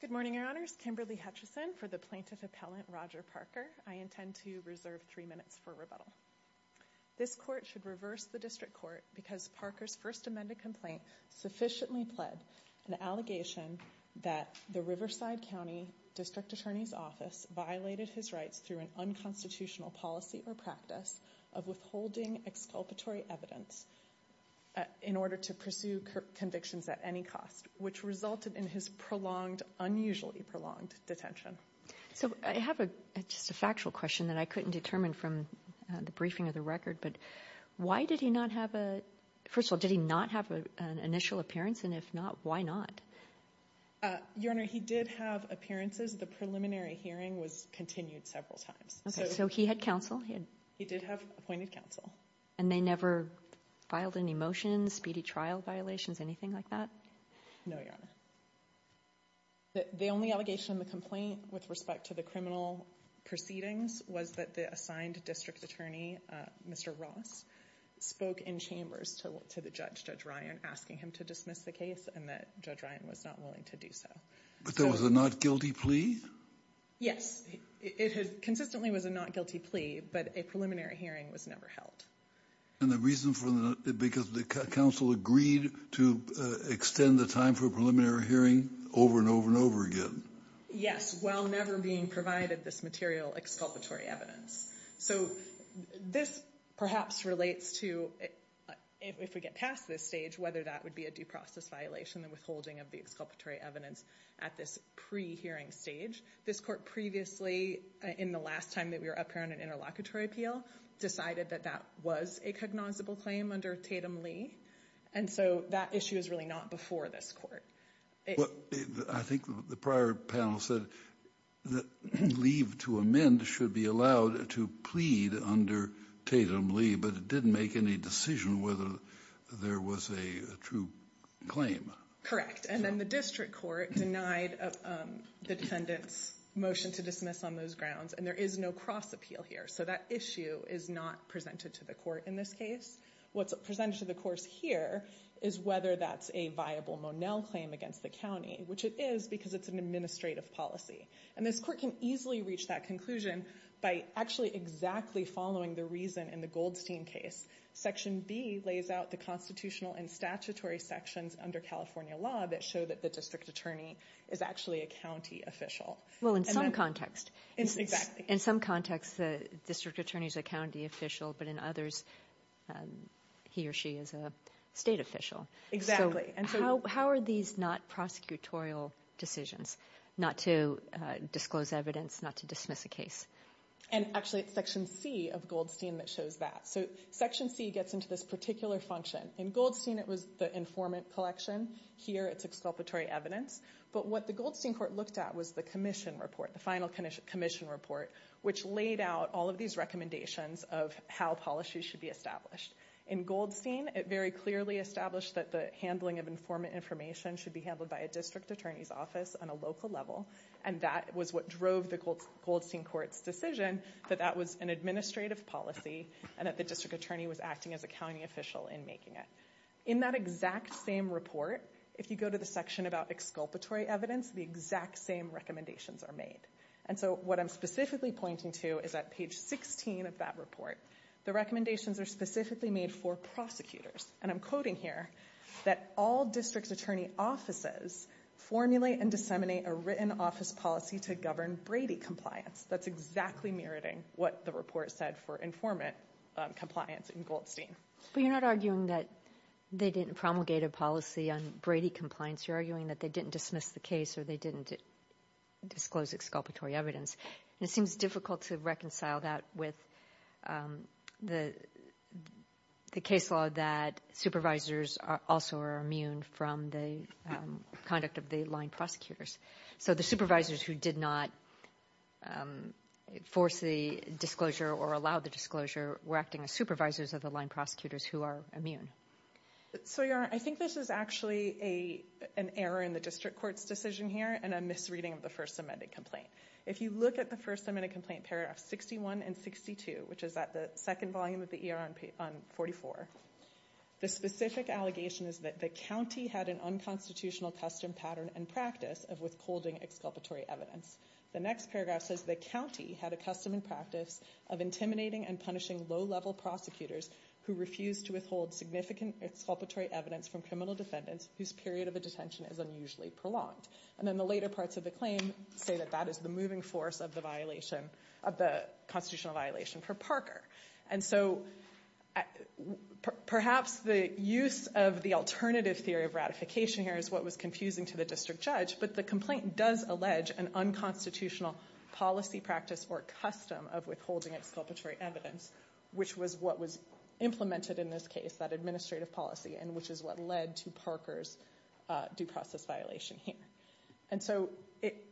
Good morning, your honors. Kimberly Hutchison for the plaintiff appellant Roger Parker. I intend to reserve three minutes for rebuttal. This court should reverse the district court because Parker's first amended complaint sufficiently pled an allegation that the Riverside County District Attorney's Office violated his rights through an unconstitutional policy or practice of withholding exculpatory evidence in order to pursue convictions at any cost, which resulted in his prolonged, unusually prolonged detention. So I have a factual question that I couldn't determine from the briefing of the record, but why did he not have a first of all, did preliminary hearing was continued several times. So he had counsel, he did have appointed counsel and they never filed any motions, speedy trial violations, anything like that? No, your honor. The only allegation in the complaint with respect to the criminal proceedings was that the assigned district attorney, Mr. Ross spoke in chambers to the judge, Judge Ryan, asking him to dismiss the case and that Judge Ryan was not willing to do so. But there was a not guilty plea? Yes, it had consistently was a not guilty plea, but a preliminary hearing was never held. And the reason for the, because the counsel agreed to extend the time for a preliminary hearing over and over and over again? Yes, while never being provided this material exculpatory evidence. So this perhaps relates to, if we get past this stage, whether that would be a due process violation, the withholding of the exculpatory evidence at this pre-hearing stage. This court previously, in the last time that we were up here on an interlocutory appeal, decided that that was a cognizable claim under Tatum-Lee. And so that issue is really not before this court. I think the prior panel said that leave to amend should be allowed to plead under Tatum-Lee, but it didn't make any decision whether there was a true claim. Correct. And then the district court denied the defendant's motion to dismiss on those grounds. And there is no cross appeal here. So that issue is not presented to the court in this case. What's presented to the course here is whether that's a viable Monell claim against the county, which it is because it's an administrative policy. And this court can easily reach that conclusion by actually exactly following the reason in the Goldstein case. Section B lays out the constitutional and statutory sections under California law that show that the district attorney is actually a county official. Well, in some context. Exactly. In some contexts, the district attorney is a county official, but in others, he or she is a state official. Exactly. And so how are these not prosecutorial decisions, not to disclose evidence, not to dismiss a case? And actually, it's section C of Goldstein that shows that. So section C gets into this particular function. In Goldstein, it was the informant collection. Here, it's exculpatory evidence. But what the Goldstein court looked at was the commission report, the final commission report, which laid out all of these recommendations of how policies should be established. In Goldstein, it very clearly established that the handling of informant information should be handled by a district attorney's office on a local level. And that was what drove the Goldstein court's decision that that was an administrative policy and that the district attorney was acting as a county official in making it. In that exact same report, if you go to the section about exculpatory evidence, the exact same recommendations are made. And so what I'm specifically pointing to is that page 16 of that report, the recommendations are specifically made for prosecutors. And I'm quoting here that all district attorney offices formulate and disseminate a written office policy to govern Brady compliance. That's exactly mirroring what the report said for informant compliance in Goldstein. But you're not arguing that they didn't promulgate a policy on Brady compliance. You're arguing that they didn't dismiss the case or they didn't disclose exculpatory evidence. It seems difficult to reconcile that with the case law that supervisors also are immune from the conduct of the line prosecutors. So the supervisors who did not force the disclosure or allow the disclosure were acting as supervisors of the line prosecutors who are immune. So I think this is actually an error in the district court's decision here and a misreading of the first amended complaint. If you look at the first amended complaint paragraph 61 and 62, which is at the second volume of the ER on page 44, the specific allegation is that the county had an unconstitutional custom pattern and practice of withholding exculpatory evidence. The next paragraph says the county had a custom and practice of intimidating and punishing low level prosecutors who refused to withhold significant exculpatory evidence from criminal say that that is the moving force of the constitutional violation for Parker. And so perhaps the use of the alternative theory of ratification here is what was confusing to the district judge, but the complaint does allege an unconstitutional policy practice or custom of withholding exculpatory evidence, which was what was implemented in this case, that administrative policy, and which is what led to Parker's due process violation here. And so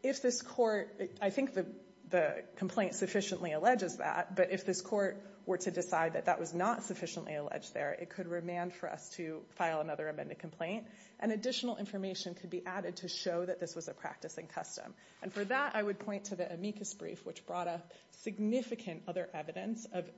if this court, I think the complaint sufficiently alleges that, but if this court were to decide that that was not sufficiently alleged there, it could remand for us to file another amended complaint and additional information could be added to show that this was a practice and custom. And for that, I would point to the amicus brief, which brought up significant other evidence of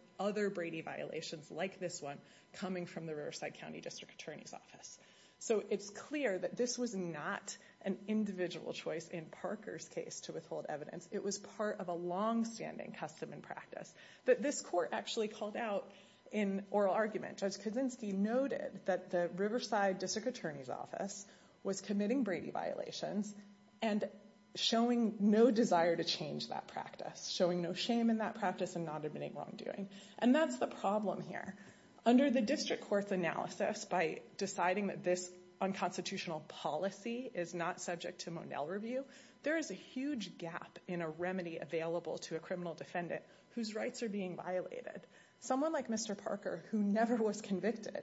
Brady violations like this one coming from the Riverside County District Attorney's Office. So it's clear that this was not an individual choice in Parker's case to withhold evidence. It was part of a longstanding custom and practice that this court actually called out in oral argument. Judge Kaczynski noted that the Riverside District Attorney's Office was committing Brady violations and showing no desire to change that practice, showing no shame in that practice and admitting wrongdoing. And that's the problem here. Under the district court's analysis by deciding that this unconstitutional policy is not subject to Monell review, there is a huge gap in a remedy available to a criminal defendant whose rights are being violated. Someone like Mr. Parker, who never was convicted,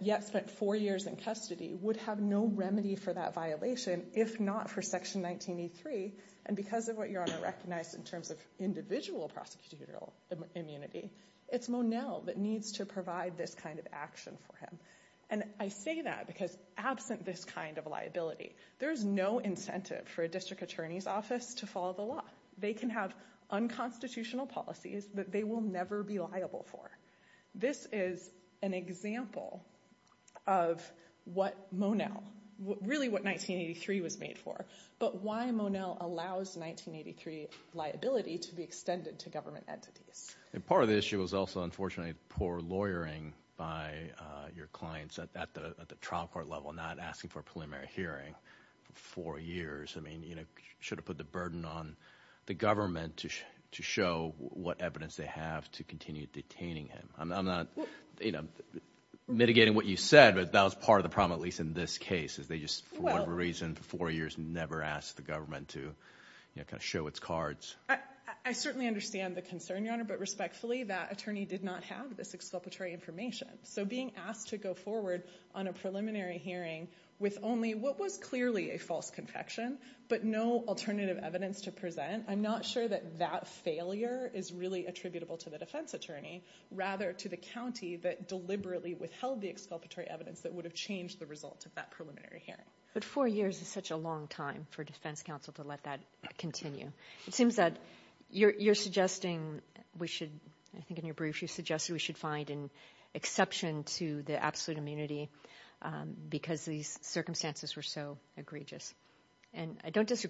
yet spent four years in custody, would have no remedy for that violation if not for Section 1983. And because of what Your Honor recognized in terms of individual prosecutorial immunity, it's Monell that needs to provide this kind of action for him. And I say that because absent this kind of liability, there's no incentive for a district attorney's office to follow the law. They can have unconstitutional policies that they will never be liable for. This is an example of what Monell, really what 1983 was made for, but why Monell allows 1983 liability to be extended to government entities. And part of the issue was also, unfortunately, poor lawyering by your clients at the trial court level, not asking for a preliminary hearing for four years. I mean, you know, should have put the burden on the government to show what evidence they have to continue detaining him. I'm not, you know, mitigating what you said, but that was part of the problem, at least in this case, is they just, for whatever reason, for four years never asked the government to, you know, kind of show its cards. I certainly understand the concern, Your Honor, but respectfully, that attorney did not have this exculpatory information. So being asked to go forward on a preliminary hearing with only what was clearly a false conviction, but no alternative evidence to present, I'm not sure that that failure is attributable to the defense attorney, rather to the county that deliberately withheld the exculpatory evidence that would have changed the result of that preliminary hearing. But four years is such a long time for defense counsel to let that continue. It seems that you're suggesting we should, I think in your brief, you suggested we should find an exception to the absolute immunity because these circumstances were so egregious. And I don't that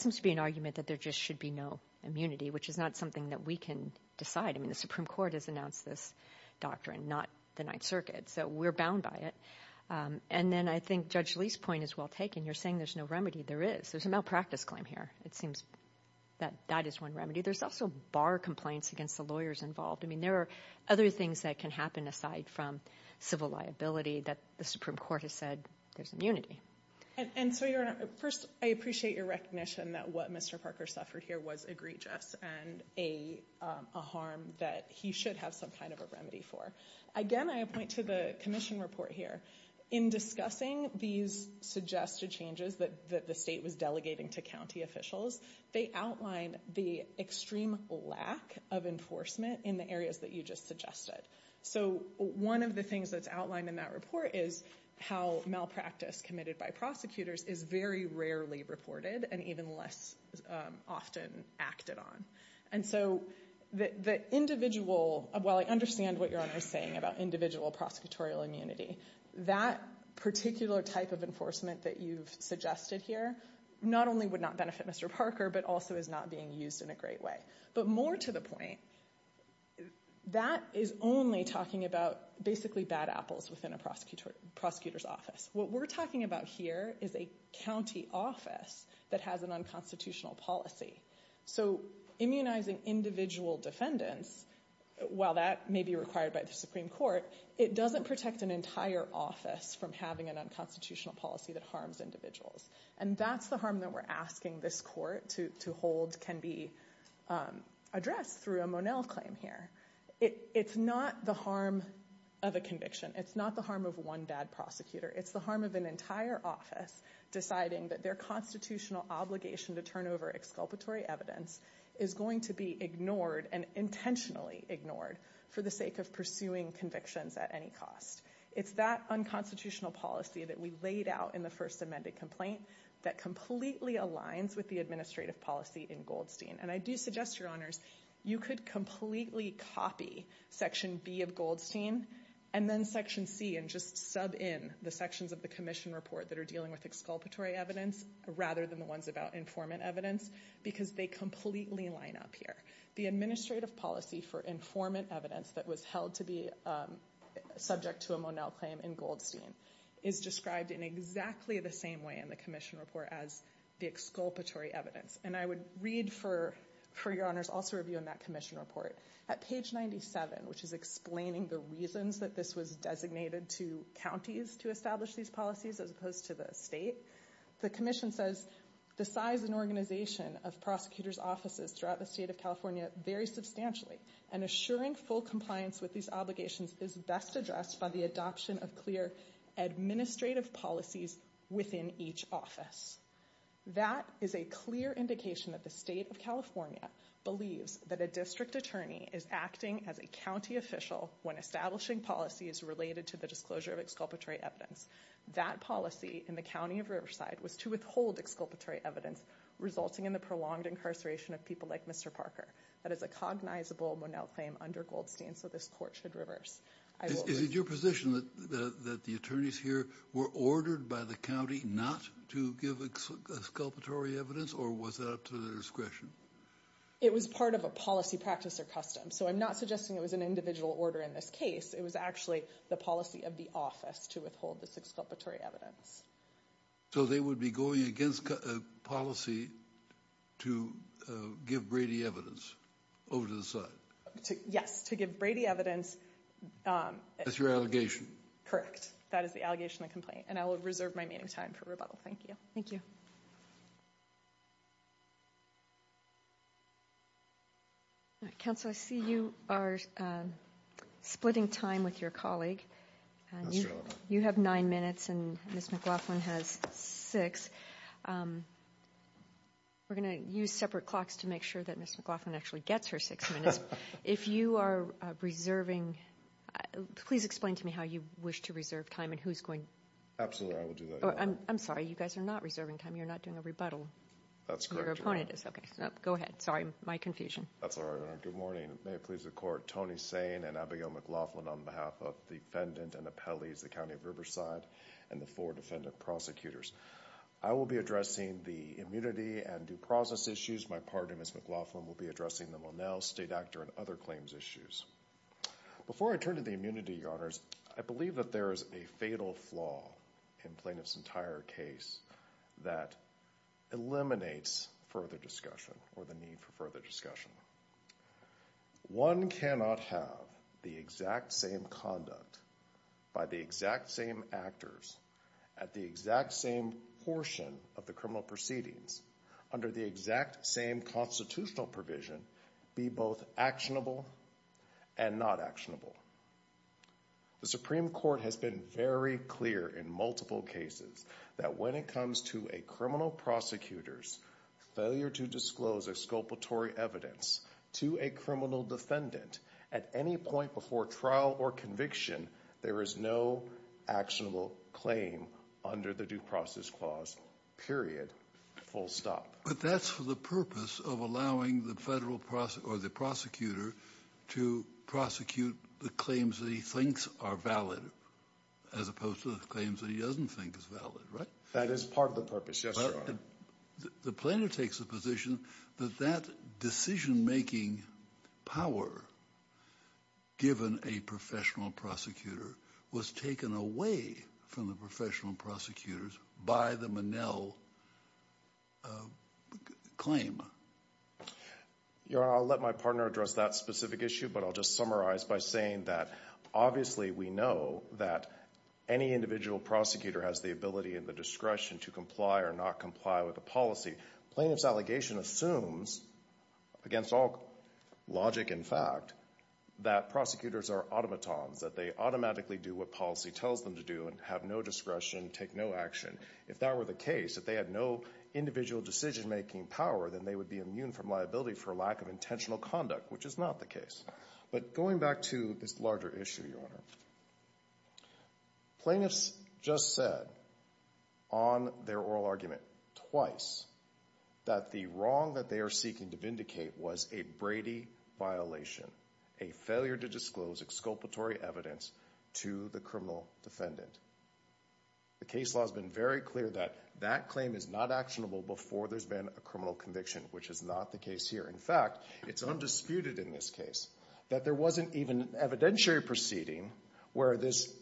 seems to be an argument that there just should be no immunity, which is not something that we can decide. I mean, the Supreme Court has announced this doctrine, not the Ninth Circuit, so we're bound by it. And then I think Judge Lee's point is well taken. You're saying there's no remedy. There is. There's a malpractice claim here. It seems that that is one remedy. There's also bar complaints against the lawyers involved. I mean, there are other things that can happen, aside from civil liability, that the Supreme Court has said there's immunity. And so first, I appreciate your recognition that what Mr. Parker suffered here was egregious and a harm that he should have some kind of a remedy for. Again, I point to the commission report here. In discussing these suggested changes that the state was delegating to county officials, they outlined the extreme lack of enforcement in the areas that you just suggested. So one of the things that's outlined in that report is how malpractice committed by prosecutors is very rarely reported and even less often acted on. And so the individual, while I understand what you're saying about individual prosecutorial immunity, that particular type of enforcement that you've suggested here not only would not benefit Mr. Parker, but also is not being used in a great way. But more to the point, that is only talking about basically bad apples within a prosecutor's office. What we're talking about here is a county office that has an unconstitutional policy. So immunizing individual defendants, while that may be required by the Supreme Court, it doesn't protect an entire office from having an unconstitutional policy that harms individuals. And that's the harm that we're asking this court to hold can be addressed through a Monell claim here. It's not the harm of a conviction. It's not the harm of one bad prosecutor. It's the harm of an entire office deciding that their constitutional obligation to turn over exculpatory evidence is going to be ignored and intentionally ignored for the sake of pursuing convictions at any cost. It's that unconstitutional policy that we laid out in the first amended complaint that completely aligns with the administrative policy in Goldstein. And I do suggest, your honors, you could completely copy section B of Goldstein and then section C and just sub in the sections of the commission report that are dealing with exculpatory evidence rather than the ones about informant evidence because they completely line up here. The administrative policy for informant evidence that was held to be subject to a Monell claim in Goldstein is described in exactly the same way in the commission report as the exculpatory evidence. And I would read for your honors also review in that commission report at page 97, which is explaining the reasons that this was designated to counties to establish these policies as opposed to the state. The commission says the size and organization of prosecutor's offices throughout the state of California very substantially and assuring full compliance with these obligations is best addressed by the adoption of clear administrative policies within each office. That is a clear indication that the state of California believes that a district attorney is acting as a county official when establishing policies related to the disclosure of exculpatory evidence. That policy in the county of Riverside was to withhold exculpatory evidence resulting in the prolonged incarceration of people like Mr. Parker. That is a cognizable claim under Goldstein, so this court should reverse. Is it your position that the attorneys here were ordered by the county not to give exculpatory evidence or was that up to their discretion? It was part of a policy practice or custom, so I'm not suggesting it was an individual order in this case. It was actually the policy of the office to withhold this exculpatory evidence. So they would be going against a policy to give Brady evidence over the side? Yes, to give Brady evidence. That's your allegation? Correct. That is the allegation of the complaint and I will reserve my meeting time for rebuttal. Thank you. Thank you. Counsel, I see you are splitting time with your colleague. You have nine minutes and Ms. McLaughlin has six. We're going to use separate clocks to make sure Ms. McLaughlin actually gets her six minutes. If you are reserving, please explain to me how you wish to reserve time and who's going to. Absolutely, I will do that. I'm sorry, you guys are not reserving time. You're not doing a rebuttal. That's correct. Your opponent is. Okay, go ahead. Sorry, my confusion. That's all right. Good morning. May it please the court, Tony Sane and Abigail McLaughlin on behalf of the defendant and appellees, the county of Riverside and the four defendant prosecutors. I will be addressing the immunity and due process issues. My partner, Ms. McLaughlin, will be addressing the Monell state actor and other claims issues. Before I turn to the immunity, your honors, I believe that there is a fatal flaw in plaintiff's entire case that eliminates further discussion or the need for further discussion. One cannot have the exact same conduct by the exact same actors at the exact same portion of criminal proceedings under the exact same constitutional provision be both actionable and not actionable. The Supreme Court has been very clear in multiple cases that when it comes to a criminal prosecutor's failure to disclose exculpatory evidence to a criminal defendant at any point before trial or conviction, there is no actionable claim under the due process clause period, full stop. But that's for the purpose of allowing the federal prosecutor or the prosecutor to prosecute the claims that he thinks are valid, as opposed to the claims that he doesn't think is valid, right? That is part of the purpose, yes, your honor. The plaintiff takes the position that that decision-making power, given a professional prosecutor, was taken away from the professional prosecutors by the Monell claim. Your honor, I'll let my partner address that specific issue, but I'll just summarize by saying that obviously we know that any individual prosecutor has the ability and the discretion to comply or not comply with a policy. Plaintiff's allegation assumes, against all logic and fact, that prosecutors are automatons, that they do what policy tells them to do and have no discretion, take no action. If that were the case, if they had no individual decision-making power, then they would be immune from liability for lack of intentional conduct, which is not the case. But going back to this larger issue, plaintiffs just said on their oral argument twice that the wrong that they are seeking to vindicate was a Brady violation, a failure to disclose exculpatory evidence to the criminal defendant. The case law has been very clear that that claim is not actionable before there's been a criminal conviction, which is not the case here. In fact, it's undisputed in this case that there wasn't even an evidentiary proceeding where this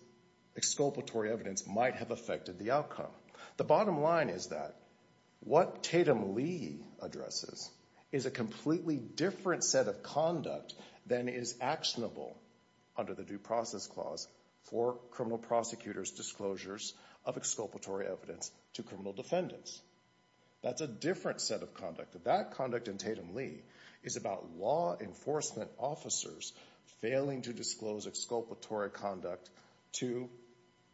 exculpatory evidence might have affected the outcome. The bottom line is that what Tatum-Lee addresses is a completely different set of conduct than is actionable under the Due Process Clause for criminal prosecutors' disclosures of exculpatory evidence to criminal defendants. That's a different set of conduct. That conduct in Tatum-Lee is about law enforcement officers failing to disclose exculpatory conduct to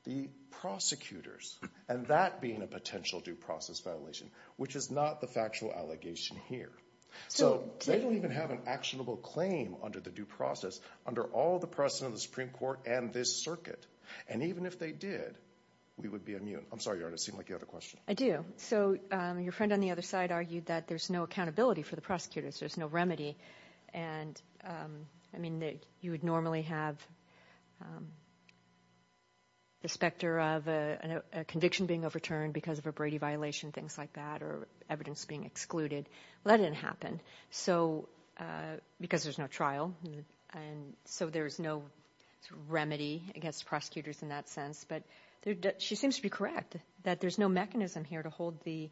the prosecutors, and that being a potential due process violation, which is not the factual allegation here. So they don't even have an actionable claim under the due process under all the precedent of the Supreme Court and this circuit. And even if they did, we would be immune. I'm sorry, Your Honor, it seemed like you had a question. I do. So your friend on the other side argued that there's no accountability for the prosecutors. There's no remedy. And I mean, you would normally have the specter of a conviction being overturned because of a Brady violation, things like that, or evidence being excluded. Well, that didn't happen because there's no trial. And so there's no remedy against prosecutors in that sense. But she seems to be correct that there's no mechanism here to hold the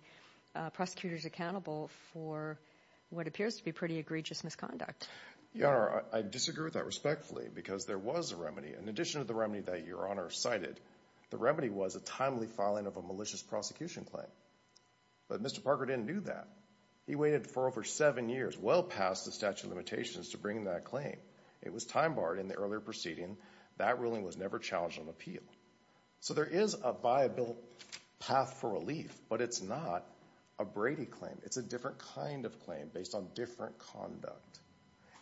prosecutors accountable for what appears to be pretty egregious misconduct. Your Honor, I disagree with that respectfully because there was a remedy. In addition to the remedy that Your Honor cited, the remedy was a timely filing of a malicious prosecution claim. But Mr. Parker didn't do that. He waited for over seven years, well past the statute of limitations, to bring that claim. It was time barred in the earlier proceeding. That ruling was never challenged on appeal. So there is a viable path for relief, but it's not a Brady claim. It's a different kind of claim based on different conduct.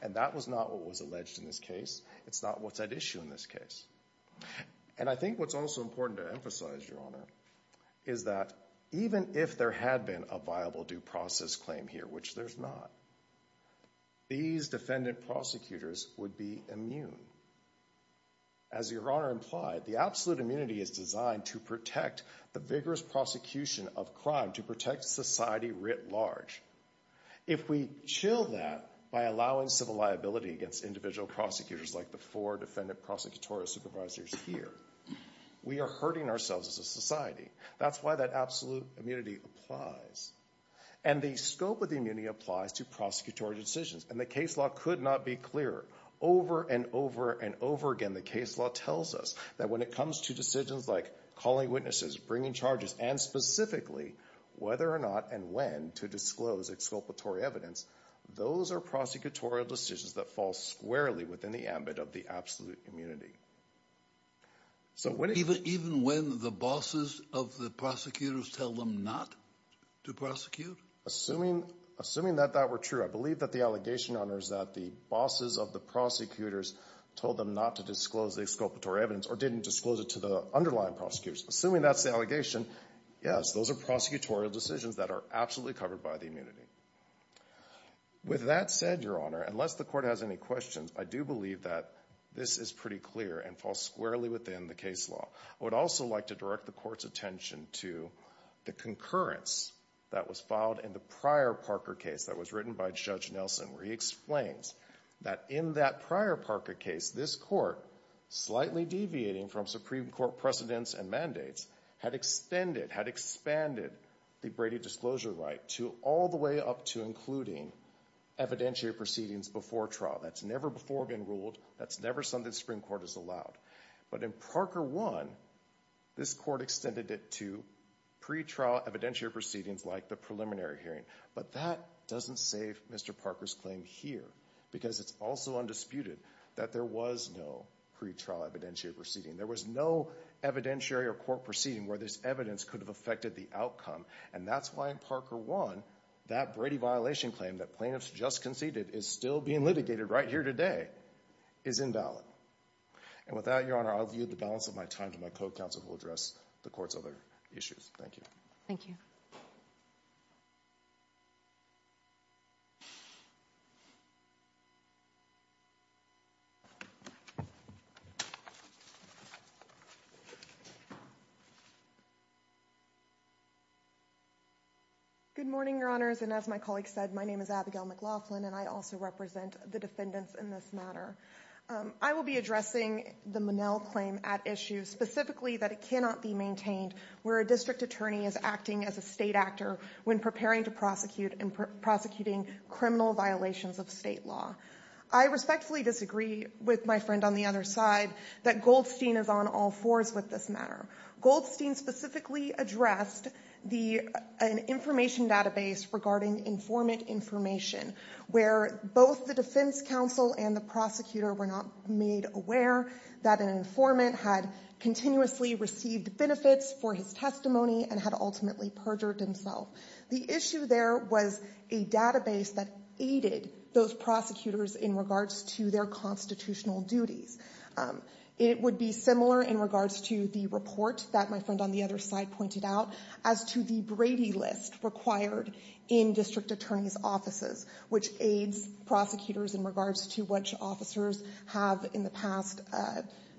And that was not what was alleged in this case. It's not what's at issue in this case. And I think what's also important to emphasize, Your Honor, is that even if there had been a viable due process claim here, which there's not, these defendant prosecutors would be immune. As Your Honor implied, the absolute immunity is designed to protect the vigorous prosecution of crime, to protect society writ large. If we chill that by allowing civil liability against individual prosecutors like the four defendant prosecutorial supervisors here, we are hurting ourselves as a society. That's why that immunity applies. And the scope of the immunity applies to prosecutorial decisions. And the case law could not be clearer. Over and over and over again, the case law tells us that when it comes to decisions like calling witnesses, bringing charges, and specifically whether or not and when to disclose exculpatory evidence, those are prosecutorial decisions that fall squarely within the ambit of the absolute immunity. Even when the bosses of the prosecutors tell them not to prosecute? Assuming that that were true, I believe that the allegation, Your Honor, is that the bosses of the prosecutors told them not to disclose the exculpatory evidence or didn't disclose it to the underlying prosecutors. Assuming that's the allegation, yes, those are prosecutorial decisions that are absolutely covered by the immunity. With that said, Your Honor, unless the Court has any questions, I do believe that this is pretty clear and falls squarely within the case law. I would also like to direct the Court's attention to the concurrence that was filed in the prior Parker case that was written by Judge Nelson, where he explains that in that prior Parker case, this Court, slightly deviating from Supreme Court precedents and mandates, had expanded the Brady disclosure right to all the way up to including evidentiary proceedings before trial. That's never before been ruled. That's never something the Supreme Court has allowed. But in Parker 1, this Court extended it to pre-trial evidentiary proceedings like the preliminary hearing. But that doesn't save Mr. Parker's claim here, because it's also undisputed that there was no pre-trial evidentiary proceeding. There was no evidentiary or court proceeding where this evidence could have affected the outcome. And that's why in Parker 1, that Brady violation claim that plaintiffs just conceded is still being litigated right here today is invalid. And with that, Your Honor, I'll view the balance of my time to my co-counsel who will address the Court's other issues. Thank you. Thank you. Good morning, Your Honors. And as my colleague said, my name is Abigail McLaughlin, and I also represent the defendants in this matter. I will be addressing the Monell claim at issue specifically that it cannot be maintained where a district attorney is acting as a state actor when preparing to prosecute and prosecuting criminal violations of state law. I respectfully disagree with my friend on the other side that Goldstein is on all fours with this matter. Goldstein specifically addressed an information database regarding informant information where both the defense counsel and the prosecutor were not made aware that an informant had continuously received benefits for his testimony and had ultimately perjured himself. The issue there was a database that aided those prosecutors in regards to their constitutional duties. It would be similar in report that my friend on the other side pointed out as to the Brady list required in district attorneys' offices, which aids prosecutors in regards to which officers have in the past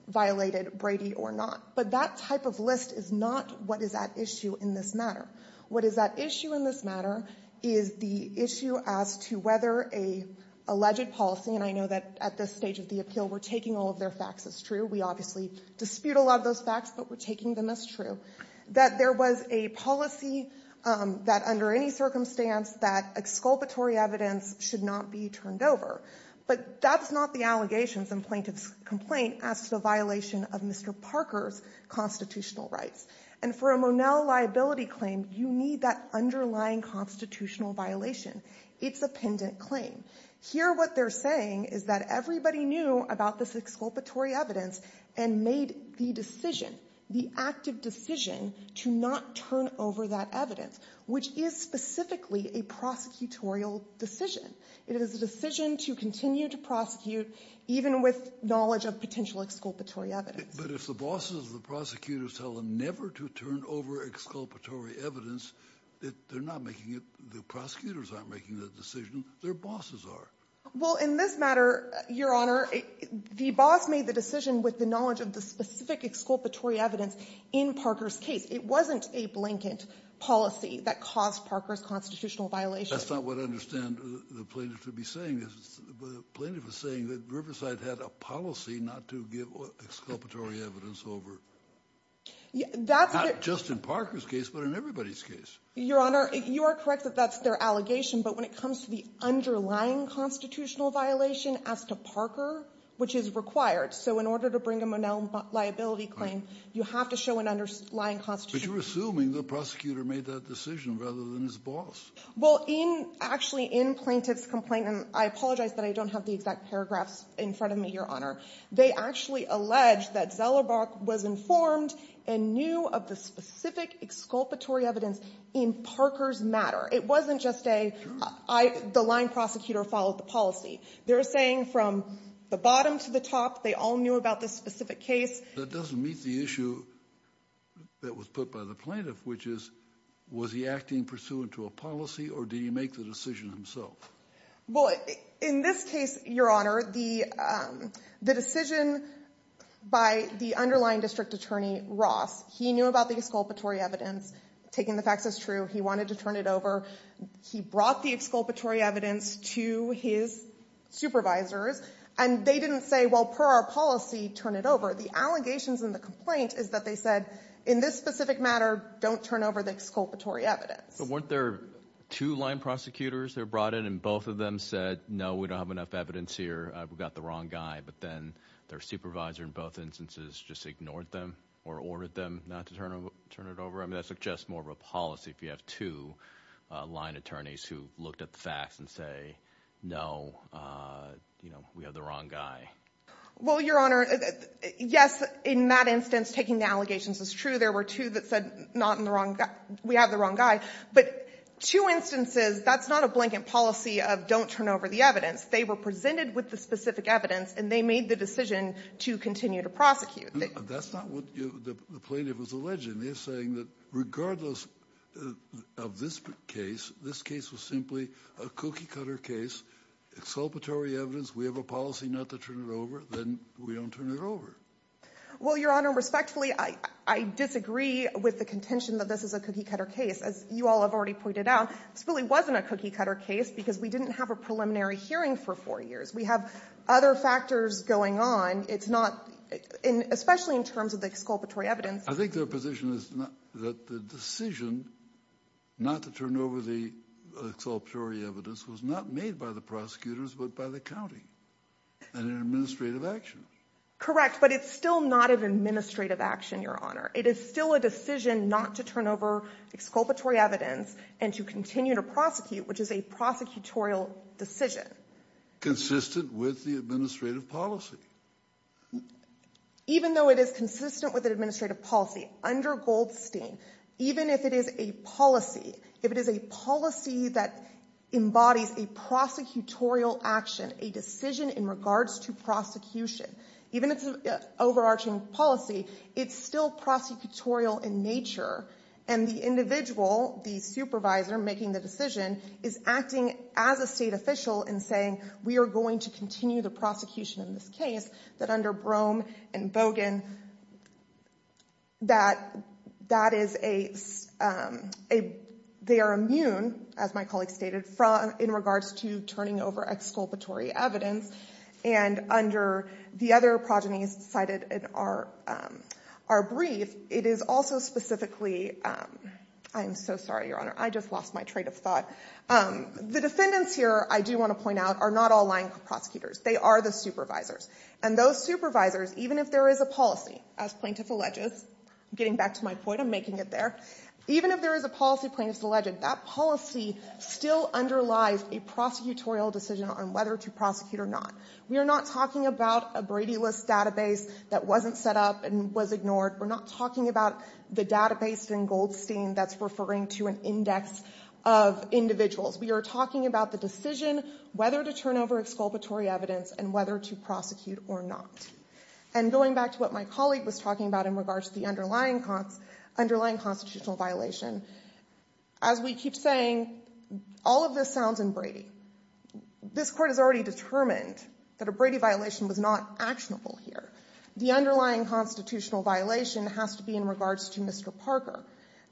violated Brady or not. But that type of list is not what is at issue in this matter. What is at issue in this matter is the issue as to whether an alleged policy, and I know that at this stage of the appeal, we're taking all of their facts as true. We obviously love those facts, but we're taking them as true. That there was a policy that under any circumstance that exculpatory evidence should not be turned over. But that's not the allegations in plaintiff's complaint as to the violation of Mr. Parker's constitutional rights. And for a Monell liability claim, you need that underlying constitutional violation. It's a pendant claim. Here what they're saying is that everybody knew about this evidence and made the decision, the active decision, to not turn over that evidence, which is specifically a prosecutorial decision. It is a decision to continue to prosecute, even with knowledge of potential exculpatory evidence. But if the bosses of the prosecutors tell them never to turn over exculpatory evidence, that they're not making it, the prosecutors aren't making the decision, their bosses are. Well, in this matter, Your Honor, the boss made the decision with the knowledge of the specific exculpatory evidence in Parker's case. It wasn't a blanket policy that caused Parker's constitutional violation. That's not what I understand the plaintiff to be saying. The plaintiff is saying that Riverside had a policy not to give exculpatory evidence over. Not just in Parker's case, but in everybody's case. Your Honor, you are correct that that's their allegation. But when it comes to the underlying constitutional violation as to Parker, which is required, so in order to bring a Monell liability claim, you have to show an underlying constitution. But you're assuming the prosecutor made that decision rather than his boss. Well, actually, in plaintiff's complaint, and I apologize that I don't have the exact paragraphs in front of me, Your Honor, they actually allege that Zellerbach was informed and knew of the policy. They're saying from the bottom to the top, they all knew about this specific case. That doesn't meet the issue that was put by the plaintiff, which is, was he acting pursuant to a policy or did he make the decision himself? Well, in this case, Your Honor, the decision by the underlying district attorney, Ross, he knew about the exculpatory evidence, taking the facts as true, he wanted to turn it over. He brought the exculpatory evidence to his supervisors, and they didn't say, well, per our policy, turn it over. The allegations in the complaint is that they said, in this specific matter, don't turn over the exculpatory evidence. But weren't there two line prosecutors that were brought in and both of them said, no, we don't have enough evidence here. We got the wrong guy. But then their supervisor, in both instances, just ignored them or ordered them not to turn it over. I mean, just more of a policy if you have two line attorneys who looked at the facts and say, no, we have the wrong guy. Well, Your Honor, yes, in that instance, taking the allegations is true. There were two that said, we have the wrong guy. But two instances, that's not a blanket policy of don't turn over the evidence. They were presented with the specific evidence and they made the decision to continue to prosecute. That's not what the plaintiff was alleging. They're saying that regardless of this case, this case was simply a cookie cutter case, exculpatory evidence, we have a policy not to turn it over, then we don't turn it over. Well, Your Honor, respectfully, I disagree with the contention that this is a cookie cutter case. As you all have already pointed out, this really wasn't a cookie cutter case because we didn't have a preliminary hearing for four years. We have other factors going on. It's not, especially in terms of the exculpatory evidence. I think their position is that the decision not to turn over the exculpatory evidence was not made by the prosecutors, but by the county and an administrative action. Correct. But it's still not an administrative action, Your Honor. It is still a decision not to turn over exculpatory evidence and to continue to prosecute, which is a prosecutorial decision. Consistent with the administrative policy. Even though it is consistent with the administrative policy under Goldstein, even if it is a policy, if it is a policy that embodies a prosecutorial action, a decision in regards to prosecution, even if it's an overarching policy, it's still prosecutorial in nature. And the individual, the supervisor making the decision, is acting as a state official in saying, we are going to continue the prosecution in this case, that under Brougham and Bogan, they are immune, as my colleague stated, in regards to turning over exculpatory evidence, and under the other progenies cited in our brief, it is also specifically, I'm so sorry, Your Honor. I just lost my train of thought. The defendants here, I do want to point out, are not all lying prosecutors. They are the supervisors. And those supervisors, even if there is a policy, as Plaintiff alleges, getting back to my point, I'm making it there, even if there is a policy, Plaintiff's alleged, that policy still underlies a prosecutorial decision on whether to prosecute or not. We are not talking about a Brady List database that wasn't set up and was ignored. We're not talking about the database in Goldstein that's referring to an index of individuals. We are talking about the decision whether to turn over exculpatory evidence and whether to prosecute or not. And going back to what my colleague was talking about in regards to the underlying constitutional violation, as we keep saying, all of this sounds in Brady. This court has already determined that a Brady violation was not actionable here. The underlying constitutional violation has to be in regards to Mr. Parker.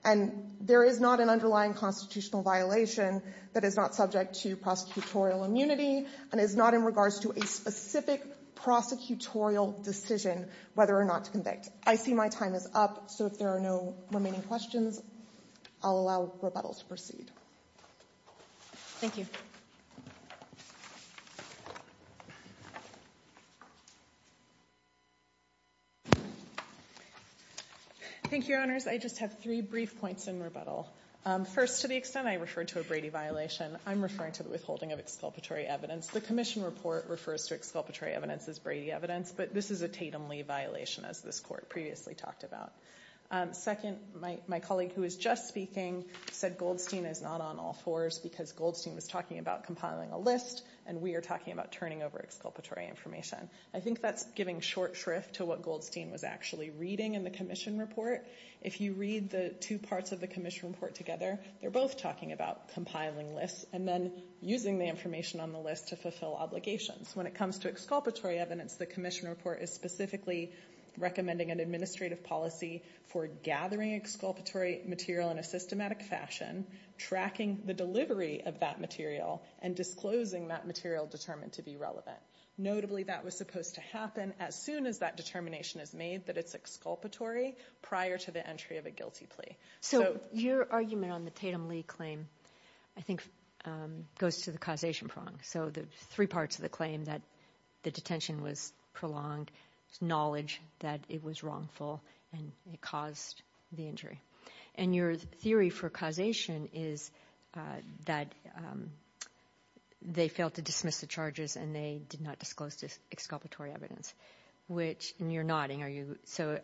And there is not an underlying constitutional violation that is not subject to prosecutorial immunity and is not in regards to a specific prosecutorial decision whether or not to convict. I see my time is up, so if there are no remaining questions, I'll allow rebuttal to proceed. Thank you. Thank you, Your Honors. I just have three brief points in rebuttal. First, to the extent I referred to a Brady violation, I'm referring to the withholding of exculpatory evidence. The commission report refers to exculpatory evidence as Brady evidence, but this is a Tatum-Lee violation, as this court previously talked about. Second, my colleague who was just speaking said Goldstein is not on all fours because Goldstein was talking about compiling a list and we are talking about turning over exculpatory information. I think that's giving short shrift to what Goldstein was actually reading in the commission report. If you read the two parts of the commission report together, they're both talking about compiling lists and then using the information on the list to fulfill obligations. When it comes to exculpatory evidence, the commission report is specifically recommending an administrative policy for gathering exculpatory material in a systematic fashion, tracking the delivery of that material, and disclosing that material determined to be relevant. Notably, that was supposed to happen as soon as that determination is made that it's exculpatory prior to the entry of a guilty plea. So your argument on the Tatum-Lee claim, I think, goes to the causation prong. So the three parts of the claim that the detention was prolonged, knowledge that it was wrongful, and it caused the injury. And your theory for causation is that they failed to dismiss the charges and they did not disclose this exculpatory evidence. So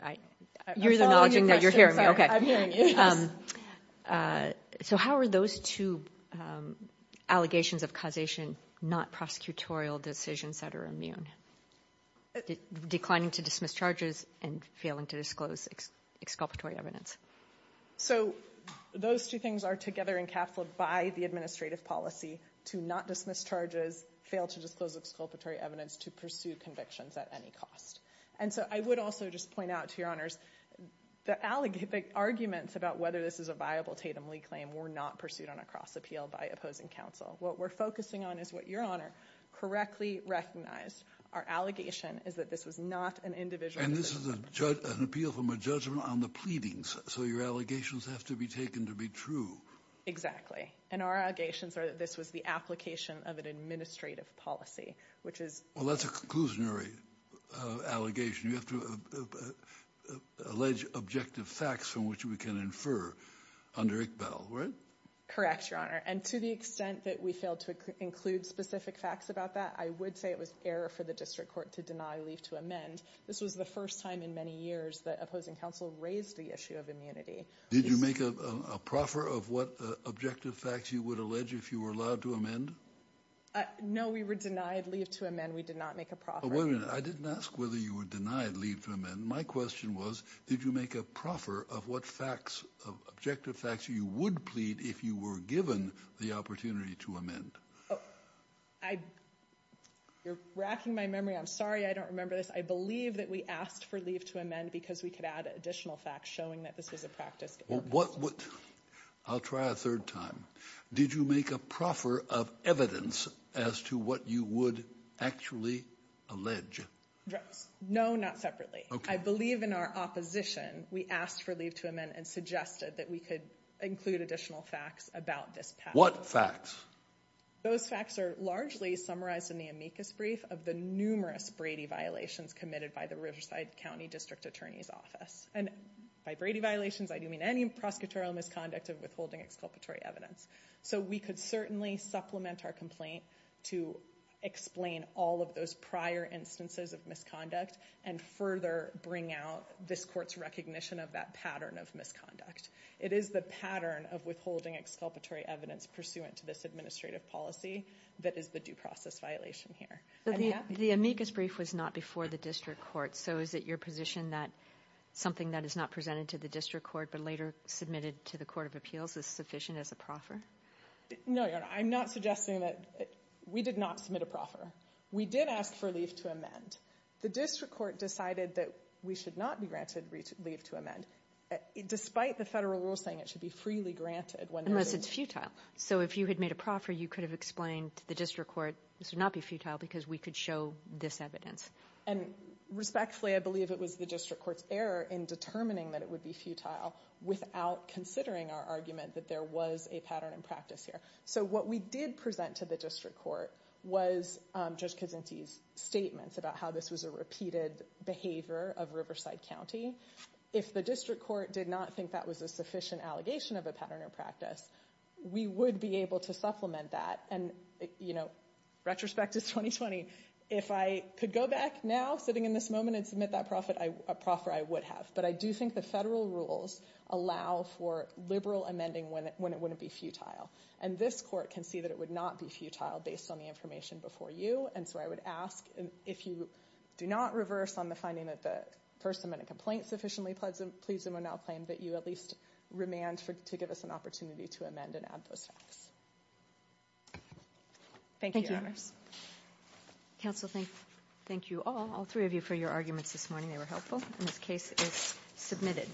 how are those two allegations of causation not prosecutorial decisions that are immune? Declining to dismiss charges and failing to disclose exculpatory evidence. So those two things are together encapsulated by the administrative policy to not dismiss charges, fail to disclose exculpatory evidence, to pursue convictions at any cost. And so I would also just point out to your honors, the arguments about whether this is a viable Tatum-Lee claim were not pursued on a cross appeal by opposing counsel. What we're focusing on is what your honor correctly recognized. Our allegation is that this was not an individual. And this is an appeal from a judgment on the pleadings. So your allegations have to be taken to be true. Exactly. And our allegations are that this was the application of an administrative policy, which is. Well, that's a conclusionary allegation. You have to allege objective facts from which we can infer under Iqbal, right? Correct, your honor. And to the extent that we failed to include specific facts about that, I would say it was error for the district court to deny leave to amend. This was the first time in many years that opposing counsel raised the issue of immunity. Did you make a proffer of what objective facts you would allege if you were allowed to amend? No, we were denied leave to amend. We did not make a proffer. I didn't ask whether you were denied leave to amend. My question was, did you make a proffer of what facts of objective facts you would plead if you were given the opportunity to amend? Oh, I. You're wracking my memory. I'm sorry, I don't remember this. I believe that we asked for leave to amend because we could add additional facts showing that this was a practice. I'll try a third time. Did you make a proffer of evidence as to what you would actually allege? No, not separately. I believe in our opposition. We asked for leave to amend and suggested that we could include additional facts about this. What facts? Those facts are largely summarized in the amicus brief of the numerous Brady violations committed by the Riverside County District Attorney's Office. And by Brady violations, I don't mean any prosecutorial misconduct of withholding exculpatory evidence. So we could certainly supplement our complaint to explain all of those prior instances of misconduct and further bring out this court's recognition of that pattern of misconduct. It is the pattern of withholding exculpatory evidence pursuant to this administrative policy that is the due process violation here. The amicus brief was not before the district court. So is it your position that something that is not presented to the district court but later submitted to the court of appeals is sufficient as a proffer? No, I'm not suggesting that. We did not submit a proffer. We did ask for leave to amend. The district court decided that we should not be granted leave to amend, despite the federal rules saying it should be freely granted. Unless it's futile. So if you had made a proffer, you could have explained to the district court this would not be futile because we could show this evidence. And respectfully, I believe it was the district court's error in determining that it would be futile without considering our argument that there was a pattern in practice here. So what we did present to the district court was Judge Kuczynski's statements about how this was a repeated behavior of Riverside County. If the district court did not think that was a sufficient allegation of a pattern of practice, we would be able to supplement that. And retrospect to 2020, if I could go back now sitting in this moment and submit that proffer, I would have. But I do think the federal rules allow for liberal amending when it wouldn't be futile. And this court can see that it would not be futile based on the information before you. And so I would ask, if you do not reverse on the finding that the person made a complaint sufficiently pleasant, we'll now claim that you at least remand to give us an opportunity to amend and add those facts. Thank you, Your Honors. Thank you. Council, thank you all, all three of you, for your arguments this morning. They were helpful. And this case is submitted.